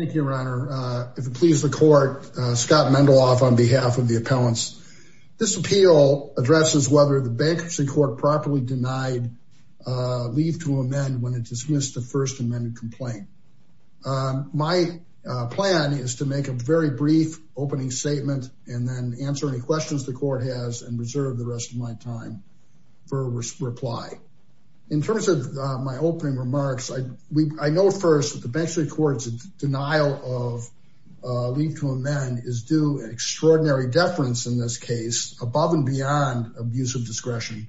Thank you, Your Honor. If it pleases the court, Scott Mendeloff on behalf of the appellants. This appeal addresses whether the Bankruptcy Court properly denied leave to amend when it dismissed the first amended complaint. My plan is to make a very brief opening statement and then answer any questions the court has and reserve the rest of my time for a reply. In terms of my opening remarks, I know first that the Bankruptcy Court's denial of leave to amend is due an extraordinary deference in this case above and beyond abuse of discretion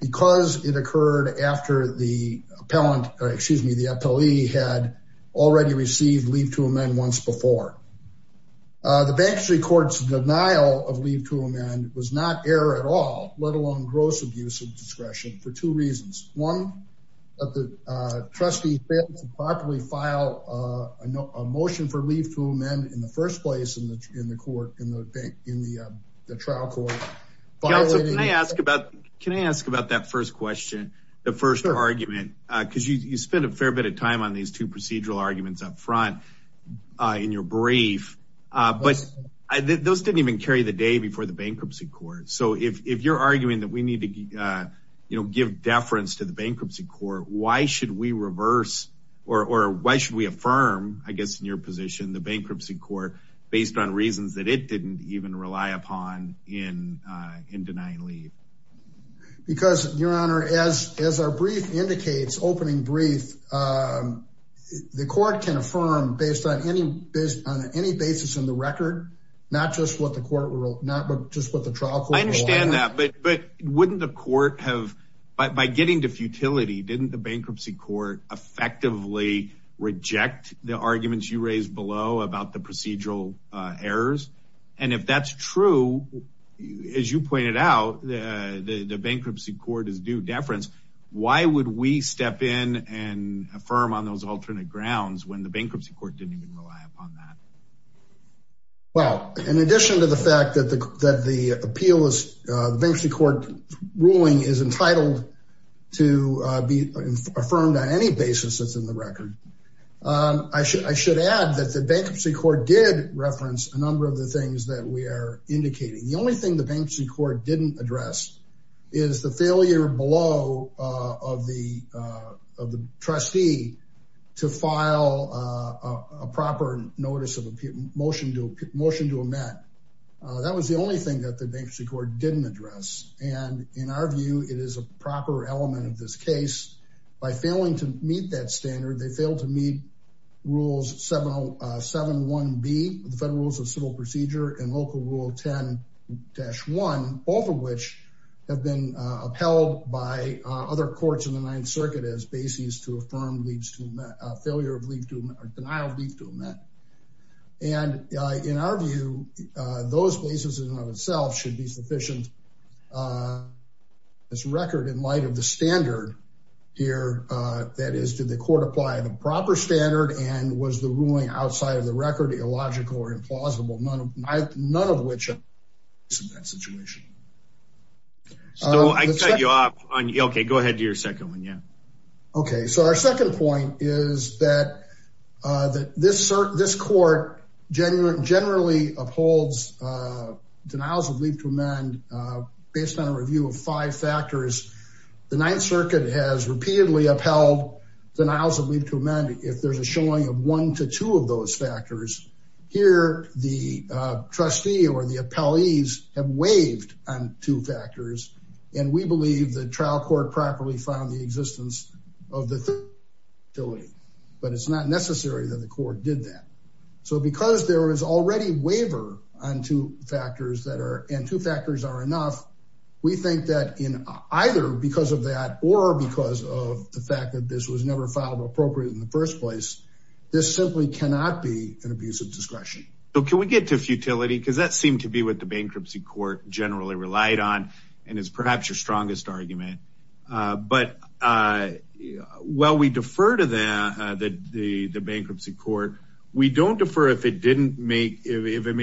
because it occurred after the appellant, excuse me, the appellee had already received leave to amend once before. The Bankruptcy Court's denial of leave to amend was not error at all, let alone gross abuse of discretion for two appellants to properly file a motion for leave to amend in the first place in the in the court, in the trial court. Scott Mendeloff Can I ask about that first question, the first argument, because you spent a fair bit of time on these two procedural arguments up front in your brief. But those didn't even carry the day before the Bankruptcy Court. So if you're arguing that we need to, you know, give deference to the or why should we affirm, I guess, in your position, the Bankruptcy Court based on reasons that it didn't even rely upon in denying leave? Because, Your Honor, as our brief indicates, opening brief, the court can affirm based on any basis on any basis in the record, not just what the court rule, not just what the trial court rule. I understand that, but wouldn't the court have, by getting to futility, didn't the Bankruptcy Court effectively reject the arguments you raised below about the procedural errors? And if that's true, as you pointed out, the Bankruptcy Court is due deference. Why would we step in and affirm on those alternate grounds when the Bankruptcy Court didn't even rely upon that? Well, in addition to the fact that the appeal is, the Bankruptcy Court ruling is entitled to be affirmed on any basis that's in the record, I should, I should add that the Bankruptcy Court did reference a number of the things that we are indicating. The only thing the Bankruptcy Court didn't address is the failure below, of the, of the trustee to file a proper notice of motion to a motion to amend. That was the only thing that the Bankruptcy Court didn't address. And in our view, it is a proper element of this case by failing to meet that standard, they failed to meet rules 707.1B, the federal rules of civil procedure and local rule 10-1, both of which have been upheld by other courts in the ninth circuit as basis to affirm failure of leave to, or denial of leave to amend. And, in our view, those places in and of itself should be sufficient, this record in light of the standard here, that is, did the court apply the proper standard and was the ruling outside of the record, illogical or implausible? None of my, none of which are in that situation. So I cut you off on, okay, go ahead to your second one. Yeah. Okay. So our second point is that this court generally upholds denials of leave to amend based on a review of five factors. The ninth circuit has repeatedly upheld denials of leave to amend if there's a showing of one to two of those factors. Here, the trustee or the appellees have waived on two factors, and we believe the trial court properly found the existence of the futility, but it's not necessary that the court did that. So because there is already waiver on two factors that are, and two factors are enough, we think that in either because of that, or because of the fact that this was never filed appropriately in the first place, this simply cannot be an abuse of discretion. So can we get to futility? Cause that seemed to be what the bankruptcy court generally relied on, and is perhaps your strongest argument. But while we defer to the bankruptcy court, we don't defer if it made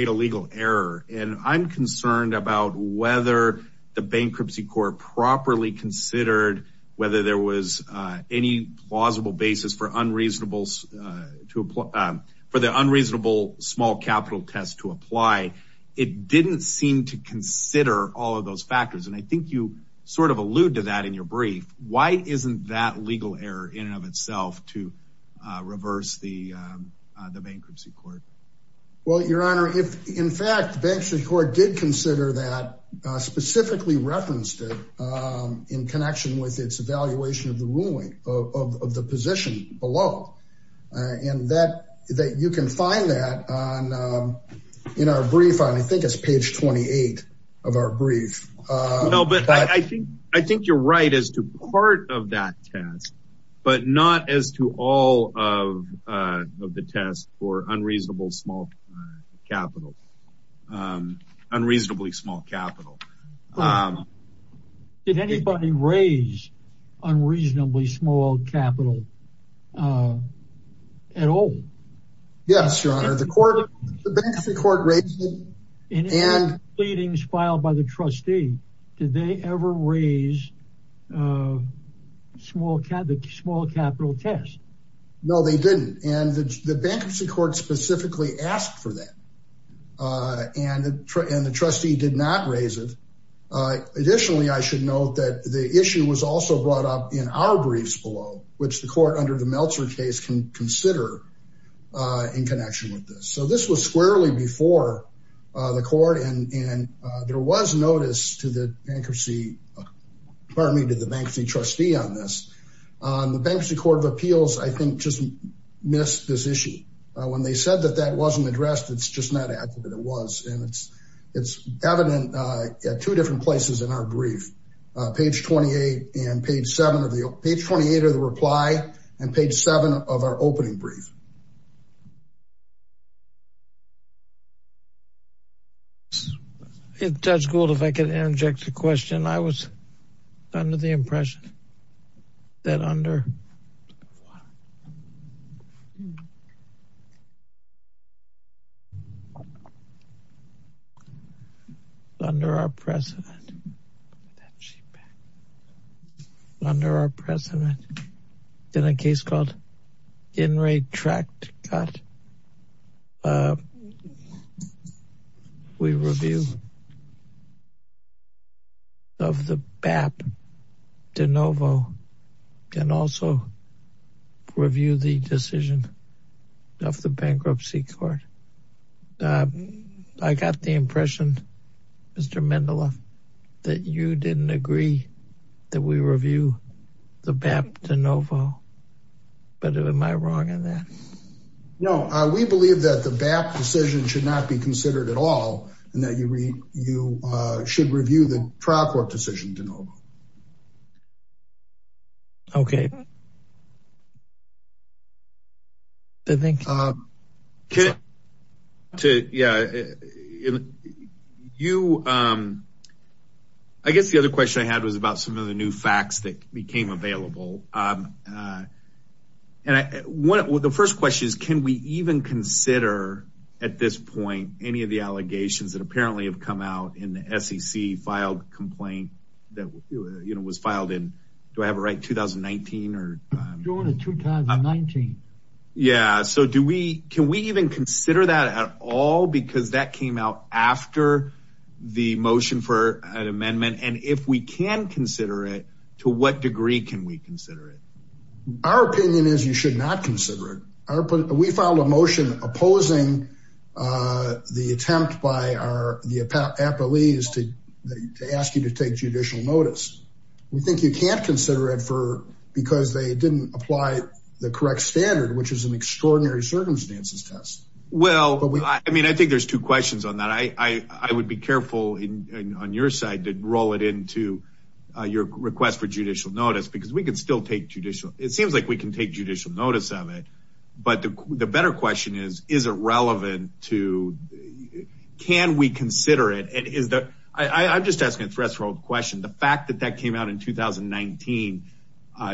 a legal error, and I'm concerned about whether the bankruptcy court properly considered whether there was any plausible basis for the unreasonable small capital test to I think you sort of allude to that in your brief. Why isn't that legal error in and of itself to reverse the bankruptcy court? Well, your honor, if in fact, the bankruptcy court did consider that specifically referenced it in connection with its evaluation of the ruling, of the position below, and that you can find that in our brief on, I think it's page 28 of our brief, but I think you're right as to part of that test, but not as to all of the tests for unreasonable small capital, unreasonably small capital. Did anybody raise unreasonably small capital at all? Yes, your honor. The court, the bankruptcy court raised it, and. In any pleadings filed by the trustee, did they ever raise the small capital test? No, they didn't. And the bankruptcy court specifically asked for that. And the trustee did not raise it. Additionally, I should note that the issue was also brought up in our briefs which the court under the Meltzer case can consider in connection with this. So this was squarely before the court and there was notice to the bankruptcy, pardon me, to the bankruptcy trustee on this. The bankruptcy court of appeals, I think just missed this issue. When they said that that wasn't addressed, it's just not accurate. It was, and it's evident at two different places in our brief, page 28 and page seven of the, page 28 of the reply and page seven of our opening brief. If Judge Gould, if I could interject a question, I was under the impression that under, under our president, under our president, in a case called Inretractable, we review the BAP De Novo and also review the decision of the bankruptcy court. I got the impression, Mr. Mendeleff, that you didn't agree that we review the BAP De Novo, but am I wrong on that? No, we believe that the BAP decision should not be considered at all. You should review the trial court decision De Novo. Okay. I guess the other question I had was about some of the new facts that became available. The first question is, can we even consider at this point, any of the allegations that apparently have come out in the SEC filed complaint that, you know, was filed in, do I have it right? 2019 or? During the 2019. Yeah. So do we, can we even consider that at all? Because that came out after the motion for an amendment. And if we can consider it, to what degree can we consider it? Our opinion is you should not consider it. We filed a motion opposing the attempt by our, the appellees to ask you to take judicial notice. We think you can't consider it for, because they didn't apply the correct standard, which is an extraordinary circumstances test. Well, I mean, I think there's two questions on that. I would be careful on your side to roll it into your request for judicial notice, because we can still take judicial. It seems like we can take judicial notice of it, but the better question is, is it relevant to, can we consider it? And is that, I'm just asking a threshold question. The fact that that came out in 2019,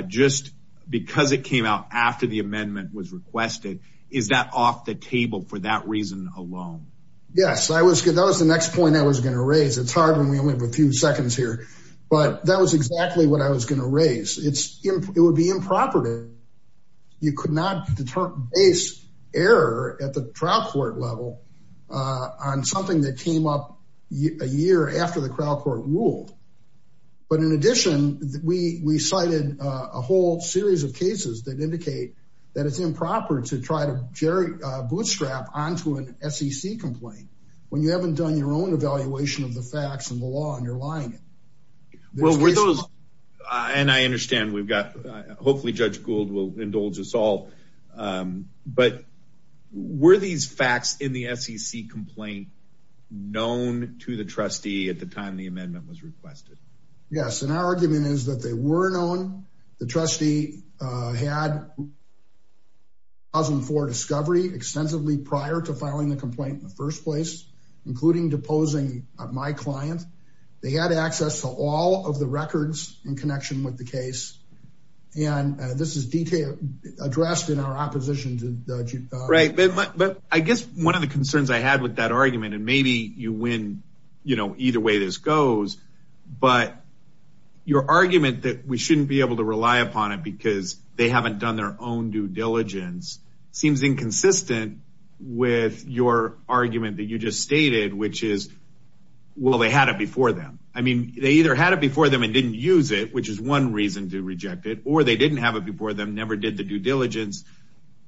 just because it came out after the amendment was requested, is that off the table for that reason alone? Yes, I was good. That was the next point I was going to raise. It's hard when we only have a few seconds here, but that was exactly what I was going to raise. It would be improper to, you could not base error at the trial court level on something that came up a year after the trial court ruled. But in addition, we cited a whole series of cases that indicate that it's improper to try to Jerry bootstrap onto an SEC complaint when you haven't done your own evaluation of the facts and the law and you're lying. Well, were those, and I understand we've got, hopefully Judge Gould will indulge us all, but were these facts in the SEC complaint known to the trustee at the time the amendment was requested? Yes. And our argument is that they were known. The trustee had 2004 discovery extensively prior to filing the complaint in the first place, including deposing my client. They had access to all of the records in connection with the case. And this is detailed, addressed in our opposition to Judge Gould. Right. But I guess one of the concerns I had with that argument, and maybe you win, you know, either way this goes, but your argument that we shouldn't be able to rely upon it because they haven't done their own due diligence seems inconsistent with your argument that you just which is, well, they had it before them. I mean, they either had it before them and didn't use it, which is one reason to reject it, or they didn't have it before them, never did the due diligence.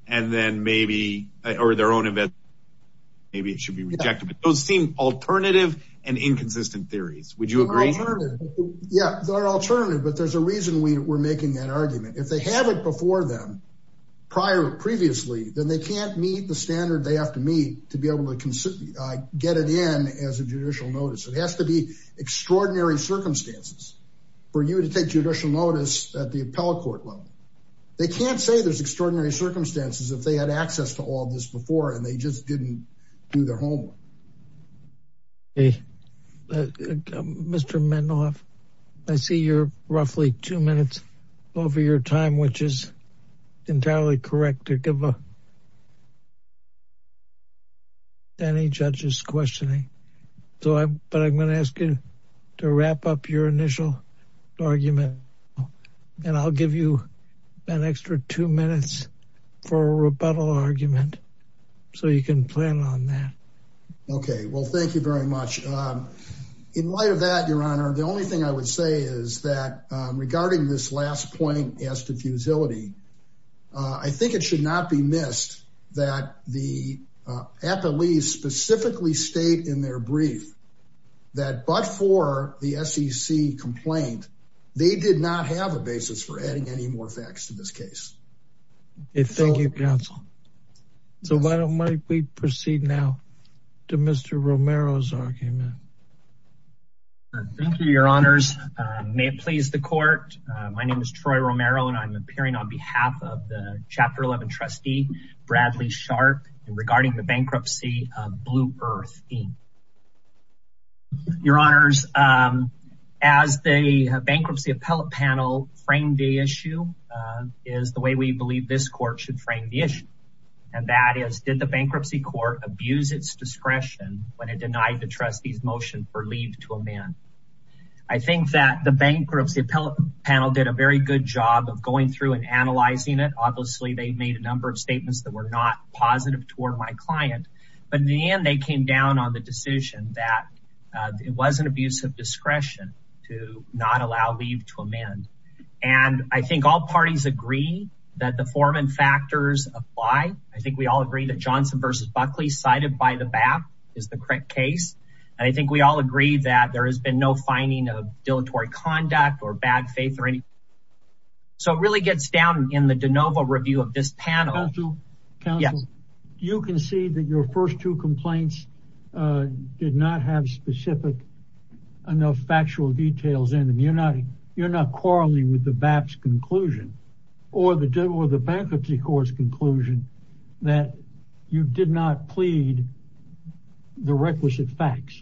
And then maybe, or their own event, maybe it should be rejected. But those seem alternative and inconsistent theories. Would you agree? Yeah, they're alternative. But there's a reason we were making that argument. If they have it before them, prior previously, then they can't meet the standard they have to to be able to get it in as a judicial notice. It has to be extraordinary circumstances for you to take judicial notice at the appellate court level. They can't say there's extraordinary circumstances if they had access to all this before, and they just didn't do their homework. Mr. Mendoff, I see you're roughly two minutes over your time, which is entirely correct to give a any judges questioning. But I'm going to ask you to wrap up your initial argument, and I'll give you an extra two minutes for a rebuttal argument, so you can plan on that. Okay, well, thank you very much. In light of that, Your Honor, the only thing I would say is that regarding this last point as to fusility, I think it should not be missed that the appellees specifically state in their brief that but for the SEC complaint, they did not have a basis for adding any more facts to this case. Thank you, counsel. So why don't we proceed now to Mr. Romero's argument. May it please the court. My name is Troy Romero, and I'm appearing on behalf of the Chapter 11 trustee, Bradley Sharp, regarding the bankruptcy of Blue Earth Inc. Your Honors, as the bankruptcy appellate panel framed the issue is the way we believe this court should frame the issue. And that is, did the bankruptcy court abuse its discretion when it denied the trustee's motion for leave to amend? I think that the bankruptcy appellate panel did a very good job of going through and analyzing it. Obviously, they made a number of statements that were not positive toward my client. But in the end, they came down on the decision that it was an abuse of discretion to not allow leave to amend. And I think all parties agree that the form and factors apply. I think we all agree that Johnson versus Buckley cited by the BAP is the correct case. And I think we all agree that there has been no finding of dilatory conduct or bad faith or any. So it really gets down in the de novo review of this panel. Counsel, you can see that your first two complaints did not have specific enough factual details in them. You're not, you're not quarreling with the BAP's conclusion or the bankruptcy court's conclusion that you did not plead the requisite facts.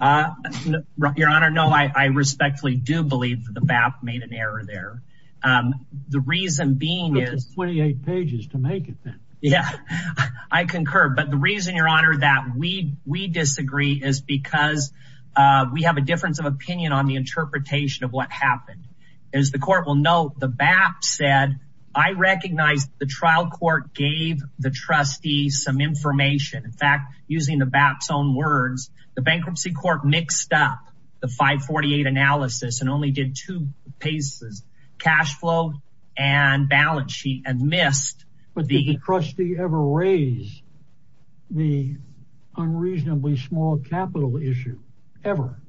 Your Honor, no, I respectfully do believe that the BAP made an error there. The reason being is. It took you 28 pages to make it then. Yeah, I concur. But the reason, Your Honor, that we disagree is because we have a difference of opinion on the interpretation of what happened. As the court will know, the BAP said, I recognize the trial court gave the trustee some information. In fact, using the BAP's own words, the bankruptcy court mixed up the 548 analysis and only did two pieces, cash flow and balance sheet and missed. Would the trustee ever raise the unreasonably small capital issue ever?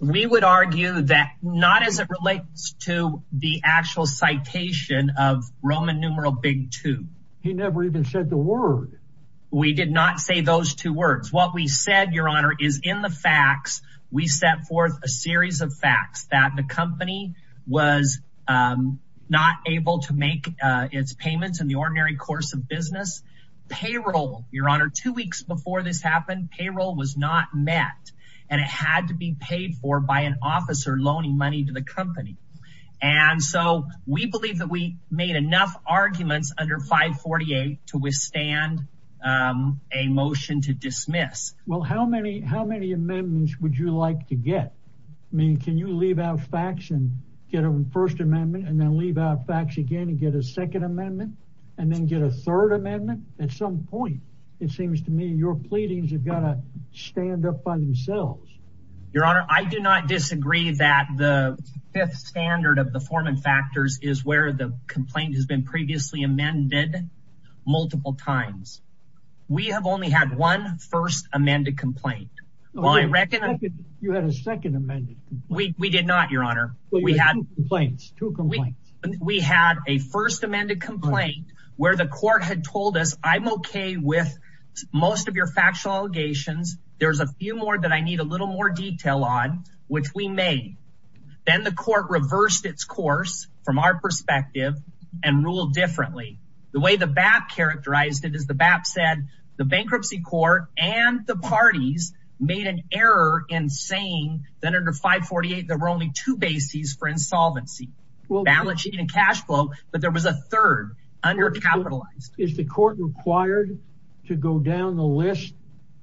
We would argue that not as it relates to the actual citation of Roman numeral big two. He never even said the word. We did not say those two words. What we said, Your Honor, is in the facts. We set forth a series of facts that the company was not able to make its payments in the ordinary course of business payroll. Your Honor, two weeks before this happened, payroll was not met. And it had to be paid for by an officer loaning money to the company. And so we believe that we made enough arguments under 548 to withstand a motion to dismiss. Well, how many how many amendments would you like to get? I mean, can you leave out facts and get a first amendment and then leave out facts again and get a second amendment and then get a third amendment? At some point, it seems to me your pleadings have got to stand up by themselves. Your Honor, I do not disagree that the fifth standard of the form and factors is where the complaint has been previously amended multiple times. We have only had one first amended complaint. You had a second amended. We did not, Your Honor. We had two complaints. We had a first amended complaint where the court had told us I'm OK with most of your factual allegations. There's a few more that I need a little more detail on, which we made. Then the court reversed its course from our perspective and ruled differently. The way the BAP characterized it is the BAP said the bankruptcy court and the parties made an error in saying that under 548, there were only two bases for insolvency, balance sheet and cash flow. But there was a third undercapitalized. Is the court required to go down the list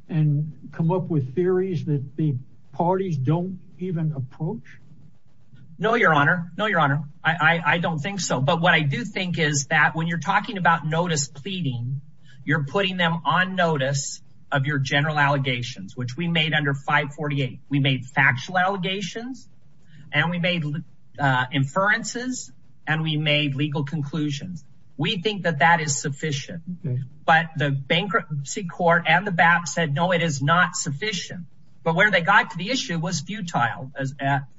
and come up with theories that the parties don't even approach? No, Your Honor. No, Your Honor. I don't think so. But what I do think is that when you're talking about notice pleading, you're putting them on notice of your general allegations, which we made under 548. We made factual allegations and we made inferences and we made legal conclusions. We think that that is sufficient. But the bankruptcy court and the BAP said, no, it is not sufficient. But where they got to the issue was futile.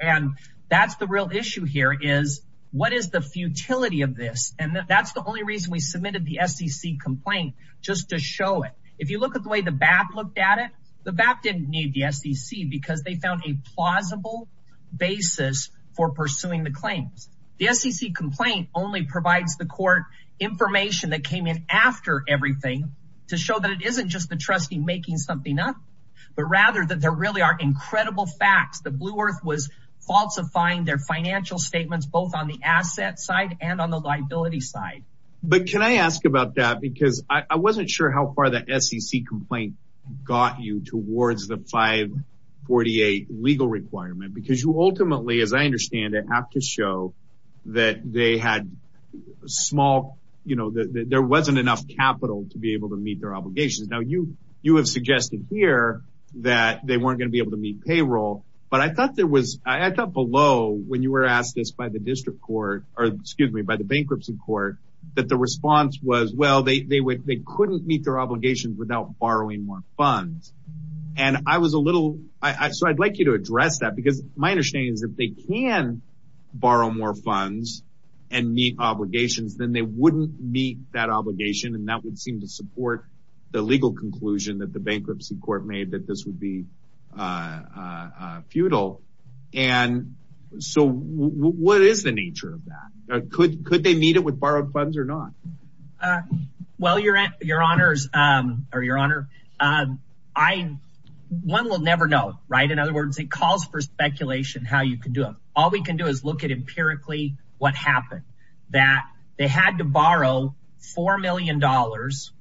And that's the real issue here is what is the futility of this? And that's the only reason we submitted the SEC complaint, just to show it. If you look at the way the BAP looked at it, the BAP didn't need the SEC because they found a plausible basis for pursuing the claims. The SEC complaint only provides the court information that came in after everything to show that it isn't just the trustee making something up, but rather that there really are incredible facts. The Blue Earth was falsifying their financial statements, both on the asset side and on the liability side. But can I ask about that? Because I wasn't sure how far the SEC complaint got you towards the 548 legal requirement, because you ultimately, as I understand it, have to show that they had small, you know, there wasn't enough capital to be able to meet their obligations. Now, you you have suggested here that they weren't going to be able to meet payroll. But I thought there was I thought below when you were asked this by the district court or excuse me, by the bankruptcy court, that the response was, well, they couldn't meet their obligations without borrowing more funds. And I was a little I so I'd like you to address that, because my understanding is that they can borrow more funds and meet obligations than they wouldn't meet that obligation. And that would seem to support the legal conclusion that the bankruptcy court made that this would be futile. And so what is the nature of that? Could they meet it with borrowed funds or not? Well, your your honors or your honor, I one will never know. Right. In other words, it calls for speculation how you can do it. All we can do is look at empirically what happened that they had to borrow four million dollars,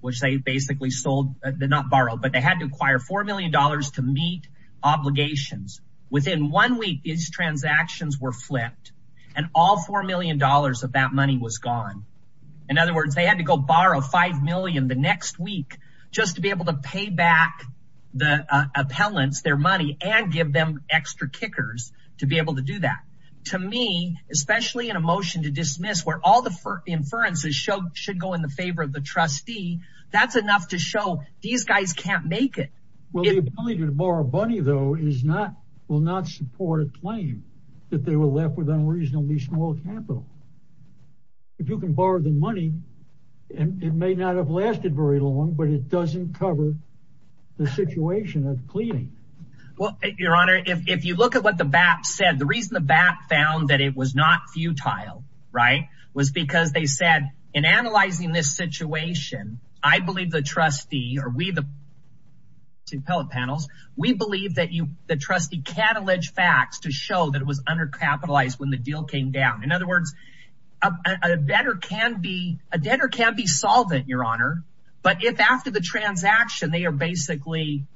which they basically sold. They're not borrowed, but they had to acquire four million dollars to meet obligations. Within one week, these transactions were flipped and all four million dollars of that money was gone. In other words, they had to go borrow five million the next week just to be able to pay back the appellants their money and give them extra kickers to be able to do that. To me, especially in a motion to dismiss where all the inferences should go in the favor of trustee, that's enough to show these guys can't make it. Well, the ability to borrow money, though, is not will not support a claim that they were left with unreasonably small capital. If you can borrow the money and it may not have lasted very long, but it doesn't cover the situation of cleaning. Well, your honor, if you look at what the BAP said, the reason the BAP found that it was not futile, right, was because they said in analyzing this situation, I believe the trustee or we the. We believe that the trustee can allege facts to show that it was undercapitalized when the deal came down. In other words, a debtor can be a debtor can be solvent, your honor. But if after the transaction, they are basically,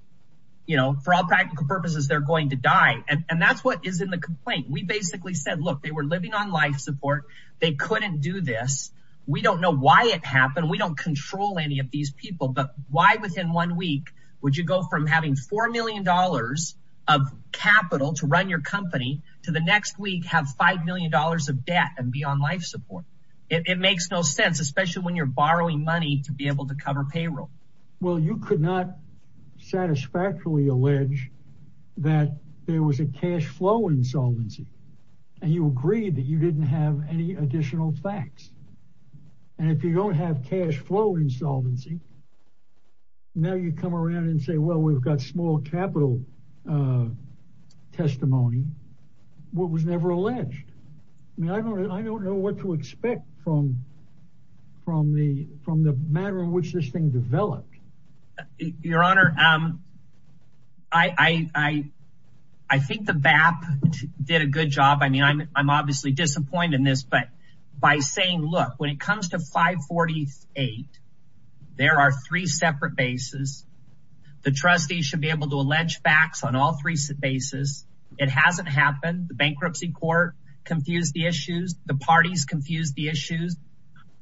you know, for all practical purposes, they're going to die. And that's what is in the complaint. We basically said, look, they were living on life support. They couldn't do this. We don't know why it happened. We don't control any of these people. But why within one week would you go from having four million dollars of capital to run your company to the next week, have five million dollars of debt and be on life support? It makes no sense, especially when you're borrowing money to be able to cover payroll. Well, you could not satisfactorily allege that there was a cash flow insolvency and you agreed that you didn't have any additional facts. And if you don't have cash flow insolvency, now you come around and say, well, we've got small capital testimony. What was never alleged? I mean, I don't know what to expect from the manner in which this thing developed. Your honor, I think the BAP did a good job. I mean, I'm obviously disappointed in this. But by saying, look, when it comes to 548, there are three separate bases. The trustees should be able to allege facts on all three bases. It hasn't happened. The bankruptcy court confused the issues. The parties confused the issues.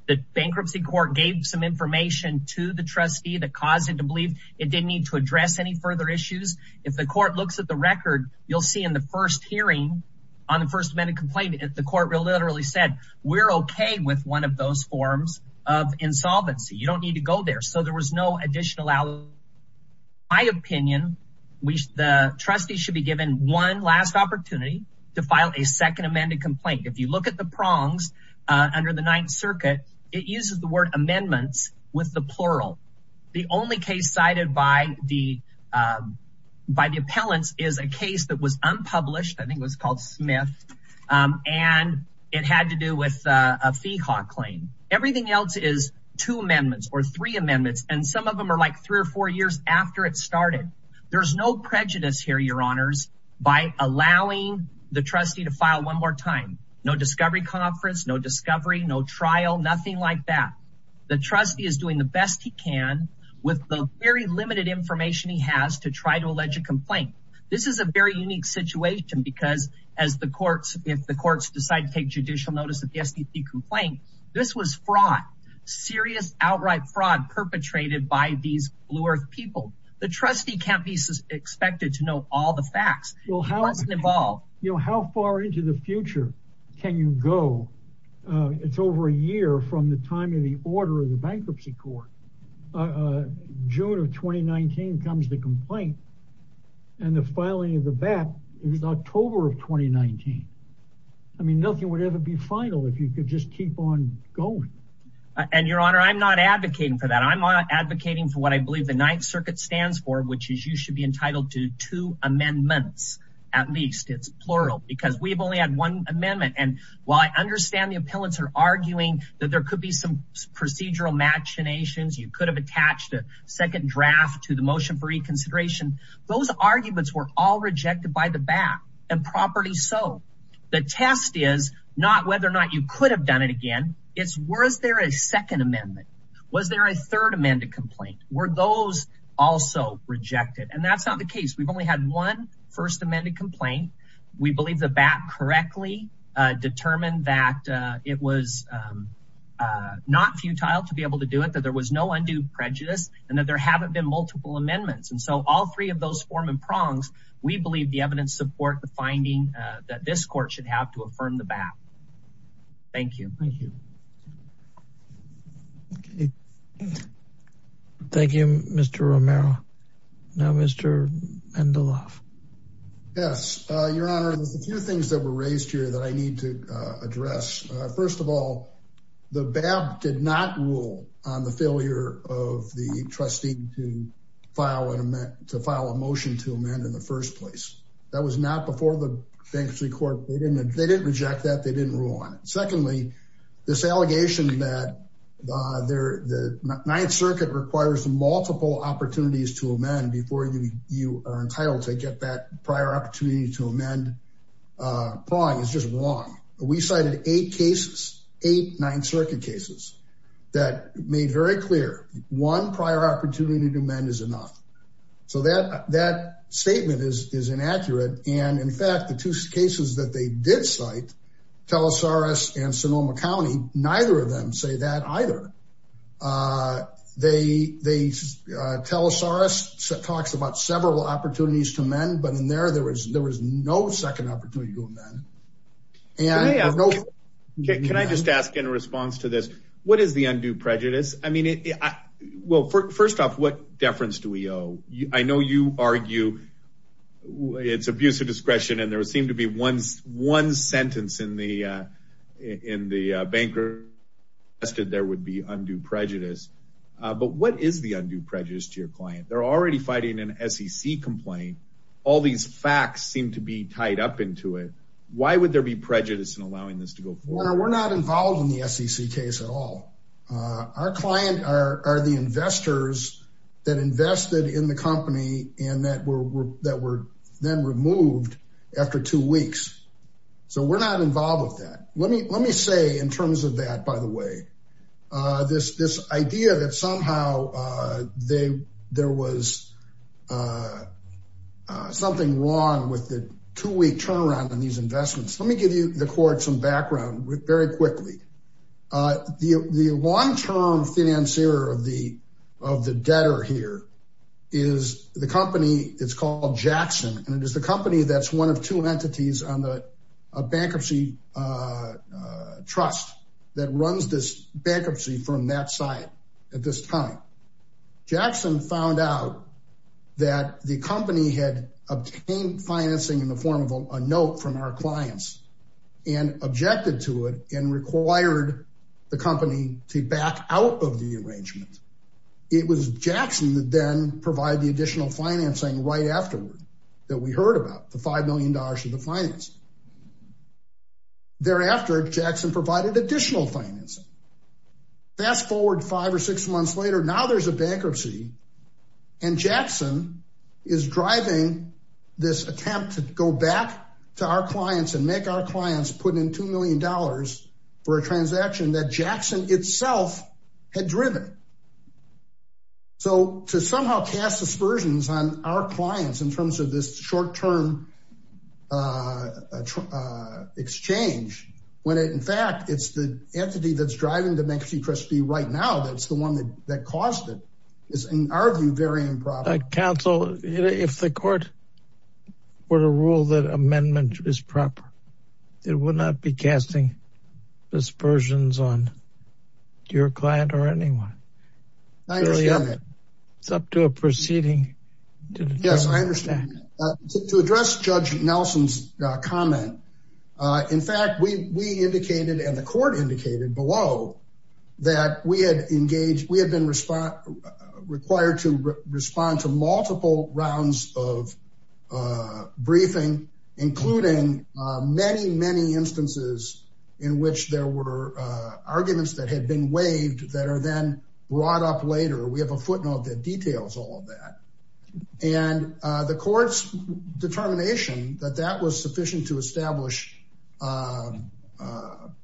The bankruptcy court gave some information to the trustee that caused it to believe it didn't need to address any further issues. If the court looks at the record, you'll see in the first hearing on the first amendment complaint, the court literally said, we're OK with one of those forms of insolvency. You don't need to go there. So there was no additional. In my opinion, the trustee should be given one last opportunity to file a second amended complaint. If you look at the prongs under the Ninth Circuit, it uses the word amendments with the plural. The only case cited by the appellants is a case that was unpublished. I think it was called Smith, and it had to do with a fee hawk claim. Everything else is two amendments or three amendments. And some of them are like three or four years after it started. There's no prejudice here, your honors, by allowing the trustee to file one more time. No discovery conference, no discovery, no trial, nothing like that. The trustee is doing the best he can with the very limited information he has to try to allege a complaint. This is a very unique situation because as the courts, if the courts decide to take judicial notice of the STP complaint, this was fraud, serious outright fraud. Perpetrated by these blue earth people. The trustee can't be expected to know all the facts. How far into the future can you go? It's over a year from the time of the order of the bankruptcy court. June of 2019 comes the complaint and the filing of the bet is October of 2019. I mean, nothing would ever be final if you could just keep on going. And your honor, I'm not advocating for that. I'm not advocating for what I believe the Ninth Circuit stands for, which is you should be entitled to two amendments. At least it's plural because we've only had one amendment. And while I understand the appellants are arguing that there could be some procedural machinations, you could have attached a second draft to the motion for reconsideration. Those arguments were all rejected by the back and property. So the test is not whether or not you could have done it again. Was there a second amendment? Was there a third amended complaint? Were those also rejected? And that's not the case. We've only had one first amended complaint. We believe the back correctly determined that it was not futile to be able to do it. That there was no undue prejudice and that there haven't been multiple amendments. And so all three of those form and prongs, we believe the evidence support the finding that this court should have to affirm the back. Thank you. Okay. Thank you, Mr. Romero. Now, Mr. Mendeloff. Yes. Your Honor, there's a few things that were raised here that I need to address. First of all, the BAP did not rule on the failure of the trustee to file a motion to amend in the first place. That was not before the bankruptcy court. They didn't reject that. They didn't rule on it. Secondly, this allegation that the Ninth Circuit requires multiple opportunities to amend before you are entitled to get that prior opportunity to amend prong is just wrong. We cited eight cases, eight Ninth Circuit cases that made very clear one prior opportunity to amend is enough. So that statement is inaccurate. And in fact, the two cases that they did cite, Telesaurus and Sonoma County, neither of them say that either. Telesaurus talks about several opportunities to amend, but in there, there was no second opportunity to amend. Can I just ask in response to this, what is the undue prejudice? I mean, well, first off, what deference do we owe? I know you argue it's abuse of discretion. And there seemed to be one sentence in the banker that there would be undue prejudice. But what is the undue prejudice to your client? They're already fighting an SEC complaint. All these facts seem to be tied up into it. Why would there be prejudice in allowing this to go forward? We're not involved in the SEC case at all. Our client are the investors that invested in the company and that were then removed after two weeks. So we're not involved with that. Let me say in terms of that, by the way, this idea that somehow there was something wrong with the two-week turnaround on these investments. Let me give you the court some background very quickly. The long-term financier of the debtor here is the company, it's called Jackson. And it is the company that's one of two entities on the bankruptcy trust that runs this bankruptcy from that side at this time. Jackson found out that the company had obtained financing in the form of a note from our clients and objected to it and required the company to back out of the arrangement. It was Jackson that then provided the additional financing right afterward that we heard about, the $5 million of the financing. Thereafter, Jackson provided additional financing. Fast forward five or six months later, now there's a bankruptcy and Jackson is driving this attempt to go back to our clients and make our clients put in $2 million for a transaction that Jackson itself had driven. So to somehow cast aspersions on our clients in terms of this short-term exchange, when in fact, it's the entity that's driving the bankruptcy trust fee right now that's the one that caused it is in our view, very improper. Counsel, if the court were to rule that amendment is proper, it would not be casting aspersions on your client or anyone. It's up to a proceeding. Yes, I understand. To address Judge Nelson's comment, in fact, we indicated and the court indicated below that we had engaged, we had been required to respond to multiple rounds of briefing, including many, many instances in which there were arguments that had been waived that are then brought up later. We have a footnote that details all of that. And the court's determination that that was sufficient to establish a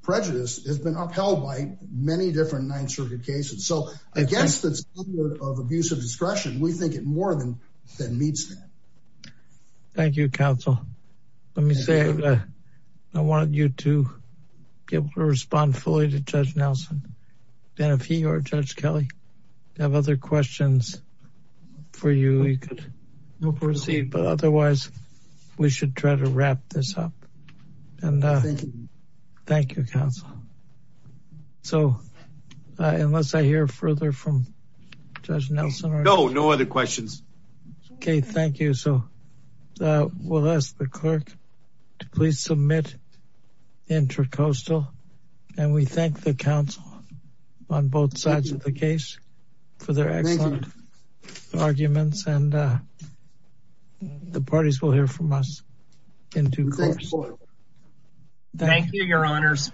prejudice has been upheld by many different Ninth Circuit cases. So I guess the standard of abuse of discretion, we think it more than meets that. Thank you, Counsel. Let me say that I wanted you to be able to respond fully to Judge Nelson. And if he or Judge Kelly have other questions for you, you could proceed. But otherwise, we should try to wrap this up. And thank you, Counsel. So unless I hear further from Judge Nelson. No, no other questions. Okay, thank you. So we'll ask the clerk to please submit intercoastal. And we thank the counsel on both sides of the case for their excellent arguments. And the parties will hear from us in due course. Thank you, Your Honors.